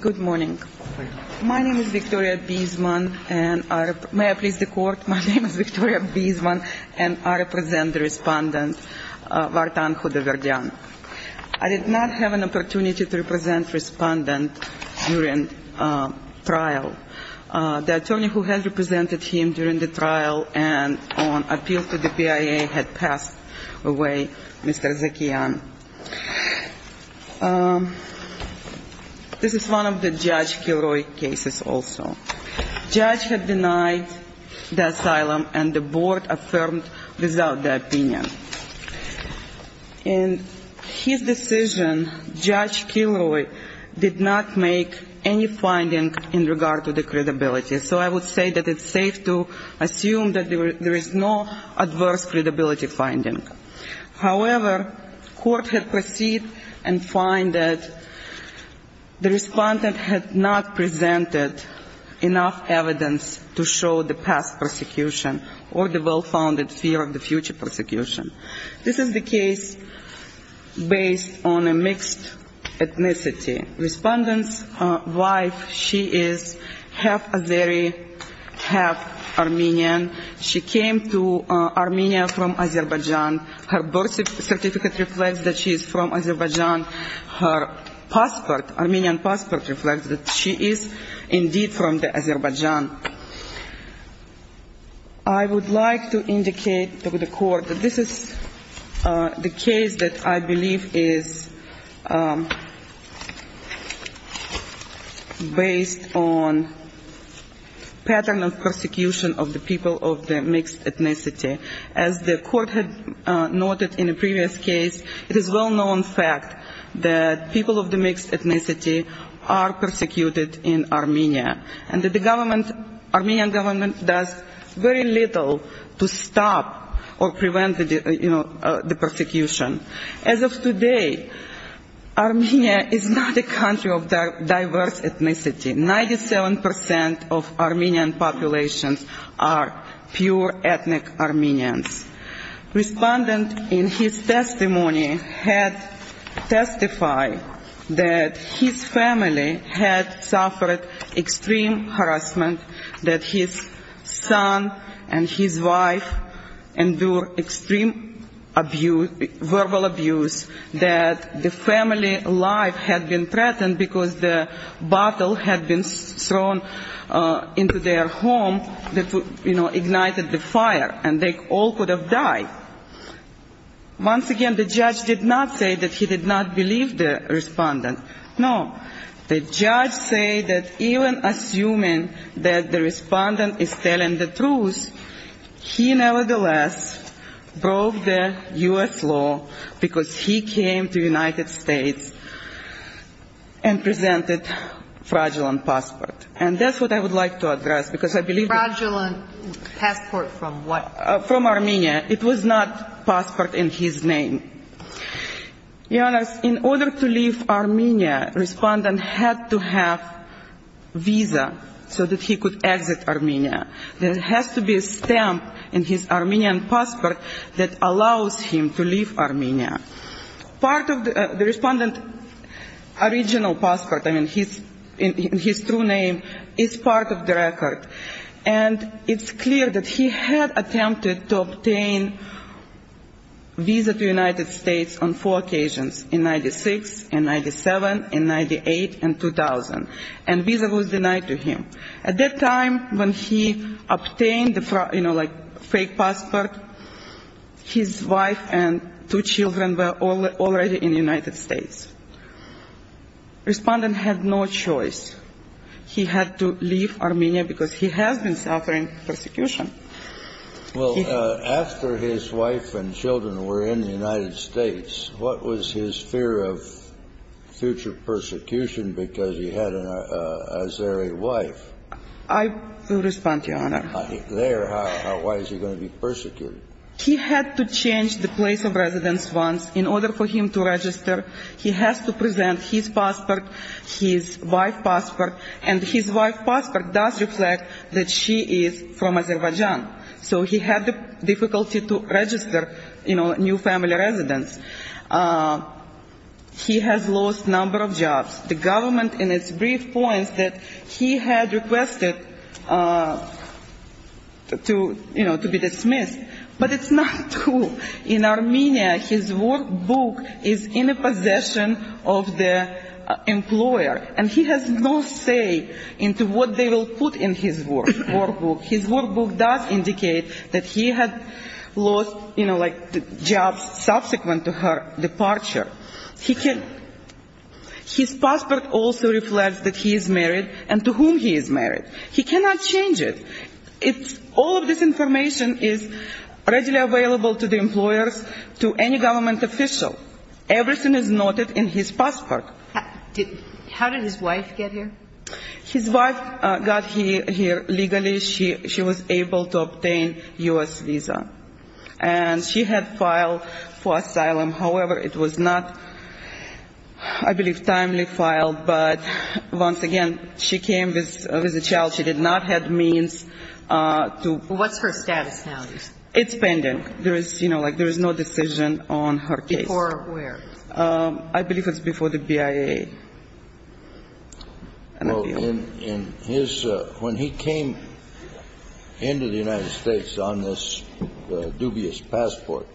Good morning. My name is Victoria Biesman, and may I please the Court, my name is Victoria Biesman, and I represent the Respondent Vardan Khodaverdyan. I did not have an opportunity to represent Respondent during trial. The attorney who has represented him during the trial and on appeal to the BIA had passed away, Mr. Zakian. This is one of the Judge Kilroy cases also. Judge had denied the asylum and the Board affirmed without the opinion. In his decision, Judge Kilroy did not make any finding in regard to the credibility, so I would say that it's safe to assume that there is no adverse credibility finding. However, Court had proceed and find that the Respondent had not presented enough evidence to show the past persecution or the well-founded fear of the future persecution. This is the case based on a mixed ethnicity. Respondent's wife, she is half-Azeri, half-Armenian. She came to Armenia from Azerbaijan. Her birth certificate reflects that she is from Azerbaijan. Her Armenian passport reflects that she is indeed from Azerbaijan. I would like to indicate to the Court that this is the case that I believe is based on pattern of persecution of the people of the mixed ethnicity. As the Court had noted in a previous case, it is well-known fact that people of the mixed ethnicity are persecuted in Armenia and that the government, Armenian government does very little to stop or prevent the persecution. As of today, Armenia is not a country of diverse ethnicity. Ninety-seven percent of Armenian populations are pure ethnic Armenians. Respondent in his testimony had testified that his family had suffered extreme harassment, that his son and his wife endured extreme verbal abuse, that the family life had been threatened because the bottle had been thrown into their home that ignited the fire and they all could have died. Once again, the judge did not say that he did not believe the respondent. No. The judge said that even assuming that the respondent is telling the truth, he nevertheless broke the U.S. law because he came to the United States. And presented a fraudulent passport. And that's what I would like to address because I believe that... Fraudulent passport from what? From Armenia. It was not a passport in his name. In order to leave Armenia, the respondent had to have a visa so that he could exit Armenia. There has to be a stamp in his Armenian passport that allows him to leave Armenia. Part of the respondent's original passport, in his true name, is part of the record. And it's clear that he had attempted to obtain a visa to the United States on four occasions, in 96, in 97, in 98 and 2000. And the visa was his wife and two children were already in the United States. Respondent had no choice. He had to leave Armenia because he has been suffering persecution. Well, after his wife and children were in the United States, what was his fear of future persecution because he had an Azeri wife? I will respond, Your Honor. If there, why is he going to be persecuted? He had to change the place of residence once in order for him to register. He has to present his passport, his wife's passport. And his wife's passport does reflect that she is from Azerbaijan. So he had the difficulty to register, you know, new family residence. He has lost number of jobs. The government in its brief points that he had requested to, you know, to be dismissed. But it's not true. In Armenia, his workbook is in the possession of the employer. And he has no say into what they will put in his workbook. His workbook does indicate that he had lost, you know, like jobs subsequent to her departure. His passport also reflects that he is married and to whom he is married. He cannot change it. All of this information is readily available to the employers, to any government official. Everything is noted in his passport. How did his wife get here? His wife got here legally. She was able to obtain U.S. visa. And she had filed for asylum. However, it was not, I believe, timely filed. But once again, she came with a child. She did not have means to... What's her status now? It's pending. There is, you know, like there is no decision on her case. Before where? I believe it's before the BIA. Well, in his, when he came into the United States on this dubious passport,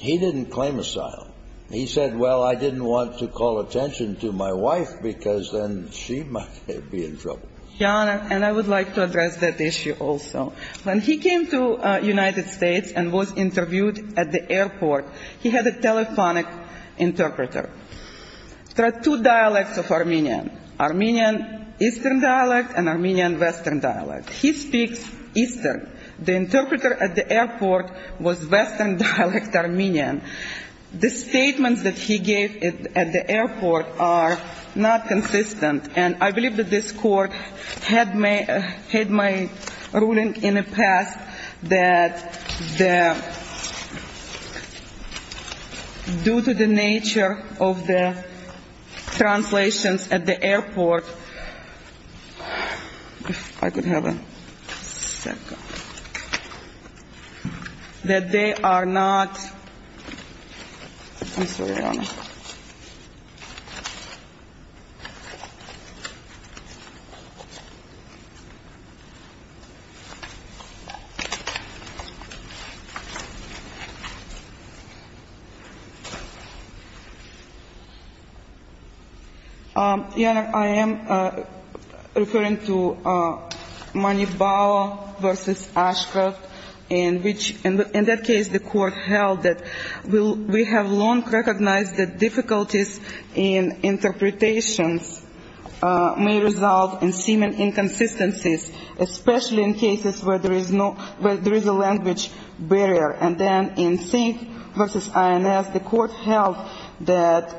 he didn't claim asylum. He said, well, I didn't want to call attention to my wife because then she might be in trouble. John, and I would like to address that issue also. When he came to United States and was a telephonic interpreter, there are two dialects of Armenian. Armenian Eastern dialect and Armenian Western dialect. He speaks Eastern. The interpreter at the airport was Western dialect Armenian. The statements that he gave at the airport are not consistent. And I believe that this court had my ruling in the past that the, that the, that the interpreter was due to the nature of the translations at the airport, if I could have a second, that they are not, I'm sorry, Your Honor. Your Honor, I am referring to Manifbao v. Ashcroft, in which, in that case, the court held that we have long recognized the difficulties in interpretations may result in seeming inconsistencies, especially in cases where there is no, where there is a language barrier. And then in Sink v. INS, the court held that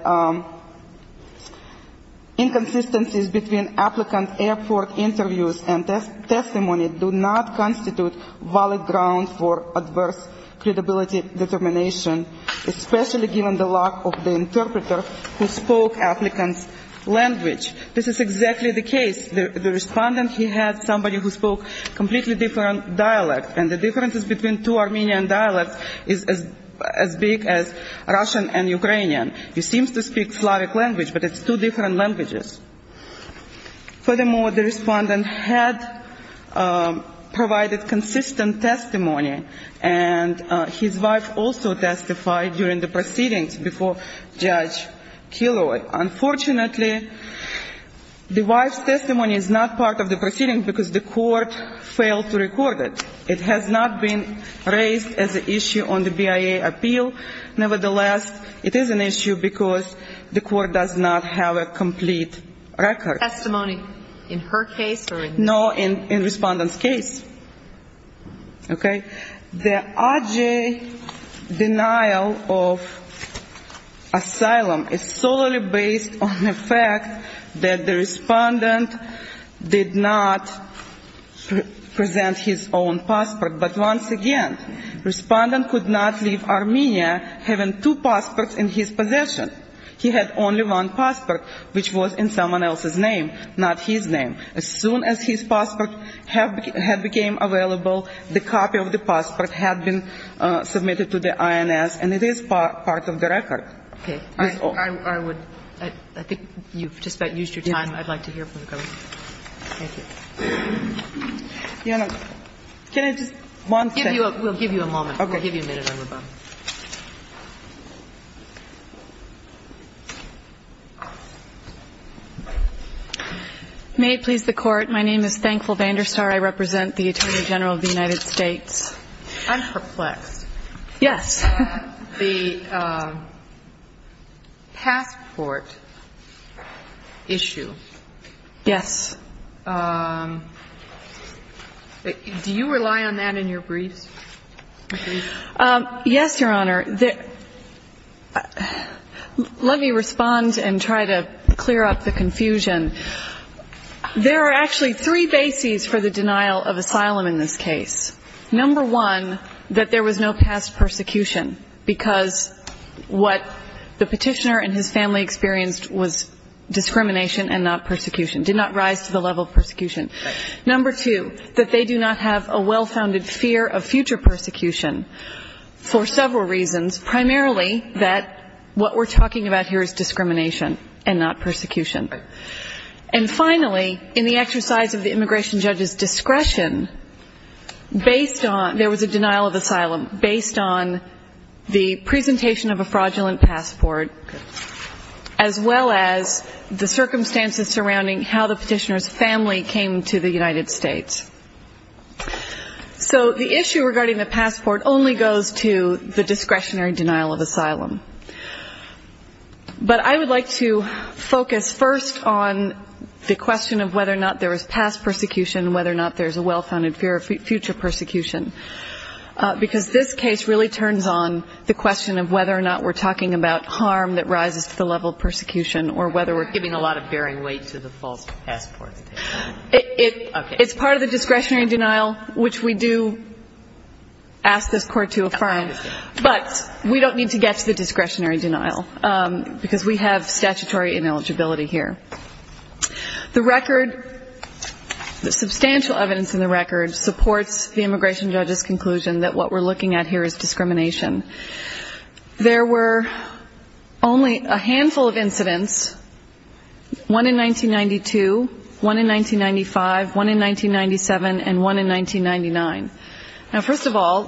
inconsistencies between applicant airport interviews and testimony do not constitute valid grounds for adverse credibility determination, especially given the lack of the interpreter who spoke applicant's language. This is exactly the case. The respondent, he had somebody who spoke completely different dialect, and the differences between two Armenian dialects is as big as Russian and Ukrainian. He seems to speak Slavic language, but it's two different languages. Furthermore, the respondent had provided consistent testimony, and his wife also testified during the proceedings before Judge Kilroy. Unfortunately, the wife's testimony is not part of the proceedings because the court failed to record it. It has not been raised as an issue on the BIA appeal. Nevertheless, it is an issue because the court does not have a complete record. Testimony, in her case or in the case? No, in the respondent's case. Okay? The R.J. denial of asylum is solely based on the fact that the respondent did not present his own passport. But once again, the respondent could not leave Armenia having two passports in his possession. He had only one passport, which was in someone else's name, not his name. As soon as his passport had became available, the copy of the passport had been submitted to the INS, and it is part of the record. Okay. I would – I think you've just about used your time. I'd like to hear from the government. Thank you. Your Honor, can I just one second? We'll give you a moment. We'll give you a minute, Your Honor. May it please the Court, my name is Thankful Vanderstar. I represent the Attorney General of the United States. I'm perplexed. Yes. The passport issue. Yes. Do you rely on that in your briefs? Yes, Your Honor. Let me respond and try to clear up the confusion. There are actually three bases for the denial of asylum in this case. Number one, that there was no past persecution, because what the petitioner and his family experienced was discrimination and not persecution, did not rise to the level of persecution. Right. Number two, that they do not have a well-founded fear of future persecution for several reasons, primarily that what we're talking about here is discrimination and not persecution. Right. And finally, in the exercise of the immigration judge's discretion, based on – there was a denial of asylum, based on the presentation of a fraudulent passport, as well as the circumstances surrounding how the petitioner's family came to the United States. So the issue regarding the passport only goes to the discretionary denial of asylum. But I would like to focus first on the question of whether or not there was past persecution, whether or not there's a well-founded fear of future persecution, because this case really turns on the question of whether or not we're talking about harm that rises to the level of persecution, or whether we're giving a lot of bearing weight to the false passport. It's part of the discretionary denial, which we do ask this Court to affirm, but we don't need to get to the discretionary denial, because we have statutory ineligibility here. The record – the substantial evidence in the record supports the immigration judge's conclusion that what we're looking at here is discrimination. There were only a handful of incidents – one in 1992, one in 1995, one in 1997, and one in 1999. Now, first of all,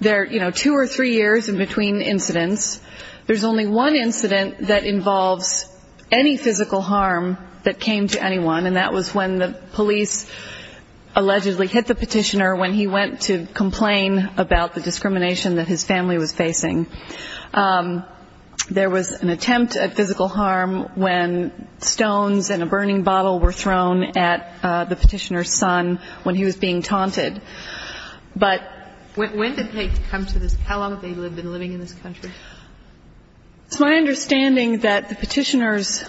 there are, you know, two or three years in between incidents. There's only one incident that involves any physical harm that came to anyone, and that was when the police allegedly hit the petitioner when he went to complain about the discrimination that his family was facing. There was an attempt at physical harm when stones and a burning bottle were thrown at the petitioner's son when he was being taunted. But – When did they come to this – how long had they been living in this country? It's my understanding that the petitioner's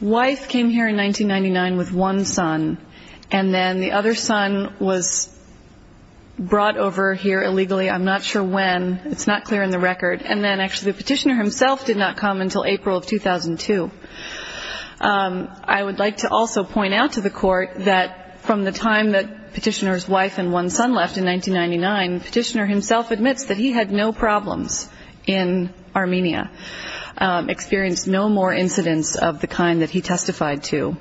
wife came here in 1999 with one son, and then the other son was brought over here illegally. I'm not sure when. It's not clear in the record. And then, actually, the petitioner himself did not come until April of 2002. I would like to also point out to the Court that from the time that the petitioner's wife and one son left in 1999, the petitioner himself admits that he had no problems in Armenia, experienced no more incidents of the kind that he testified to.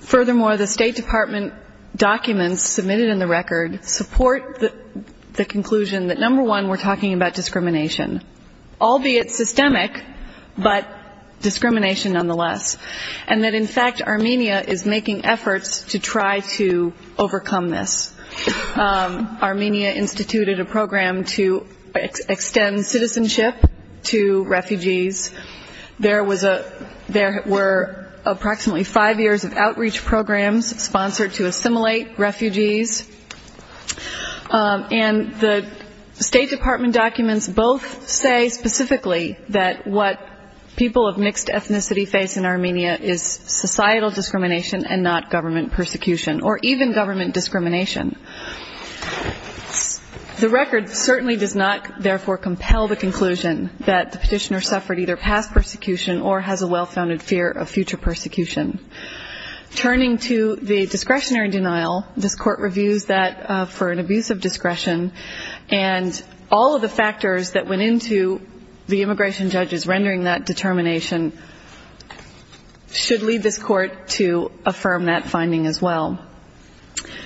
Furthermore, the State Department documents submitted in the record support the conclusion that, number one, we're talking about discrimination, albeit systemic, but discrimination nonetheless, and that, in fact, Armenia is making efforts to try to overcome this. Armenia instituted a program to extend citizenship to refugees. There were approximately five years of outreach programs sponsored to assimilate refugees. And the State Department documents both say specifically that what people of mixed ethnicity face in Armenia is societal discrimination and not government persecution, or even government discrimination. The record certainly does not, therefore, compel the conclusion that the petitioner suffered either past persecution or has a well-founded fear of future persecution. Turning to the discretionary denial, this Court reviews that for an abuse of discretion, and all of the factors that went into the immigration judges rendering that determination should lead this Court to affirm that finding as well.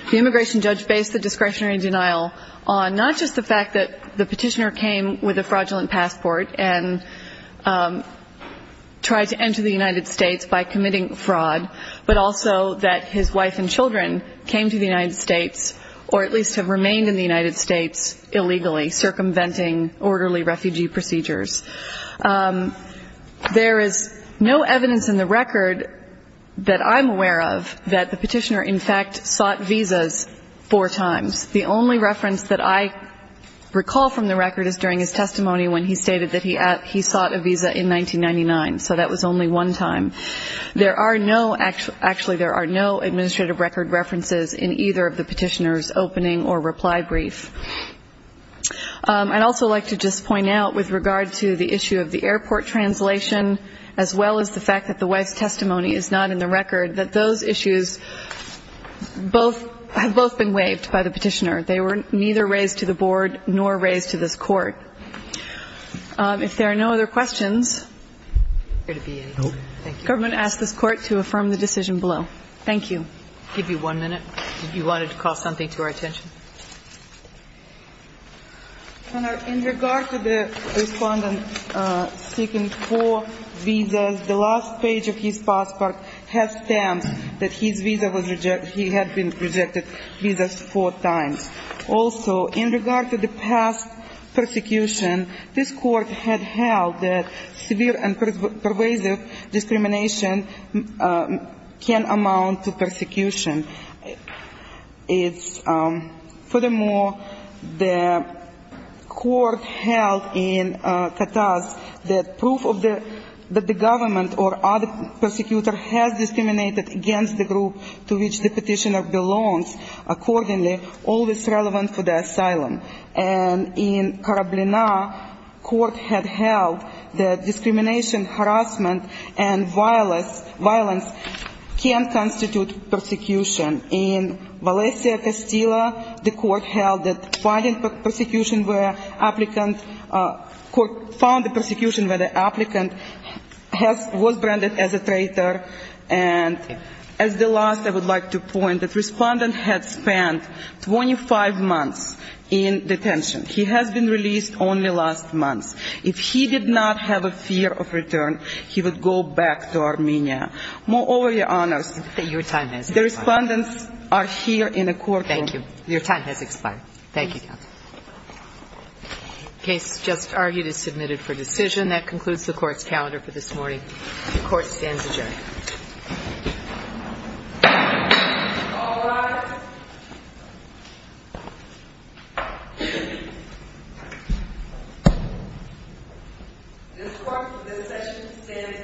The immigration judge based the discretionary denial on not just the fact that the petitioner came with a fraudulent passport and tried to enter the United States by committing fraud, but also that his wife and children came to the United States or at least have remained in the United States illegally circumventing orderly refugee procedures. There is no evidence in the record that I'm aware of that the petitioner, in fact, sought visas four times. The only reference that I recall from the record is during his testimony when he stated that he sought a visa in 1999, so that was only one time. There are no, actually, there are no administrative record references in either of the petitioner's opening or reply brief. I'd also like to just point out with regard to the issue of the airport translation, as well as the fact that the wife's testimony is not in the record, that those issues have both been waived by the petitioner. They were neither raised to the Board nor raised to this Court. If there are no other questions, the government asks this Court to affirm the decision below. Thank you. In regard to the respondent seeking four visas, the last page of his passport has stamped that he had been rejected visas four times. Also, in regard to the past persecution, this Court had held that severe and pervasive discrimination can amount to a fine of up to $100,000. Furthermore, the Court held in Kataz that proof that the government or other persecutor has discriminated against the group to which the petitioner belongs, accordingly, always relevant for the asylum. And in Karablina, the Court had held that discrimination, harassment, and violence can constitute a fine of up to $100,000. In Valencia, Castilla, the Court found the persecution where the applicant was branded as a traitor, and as the last, I would like to point, that the respondent had spent 25 months in detention. He has been released only last month. If he did not have a fear of return, he would go back to Armenia. Moreover, Your Honors, the respondents are here in a courtroom. Thank you. Your time has expired. The case just argued is submitted for decision. That concludes the Court's calendar for this morning. The Court stands adjourned. This Court for this session stands adjourned.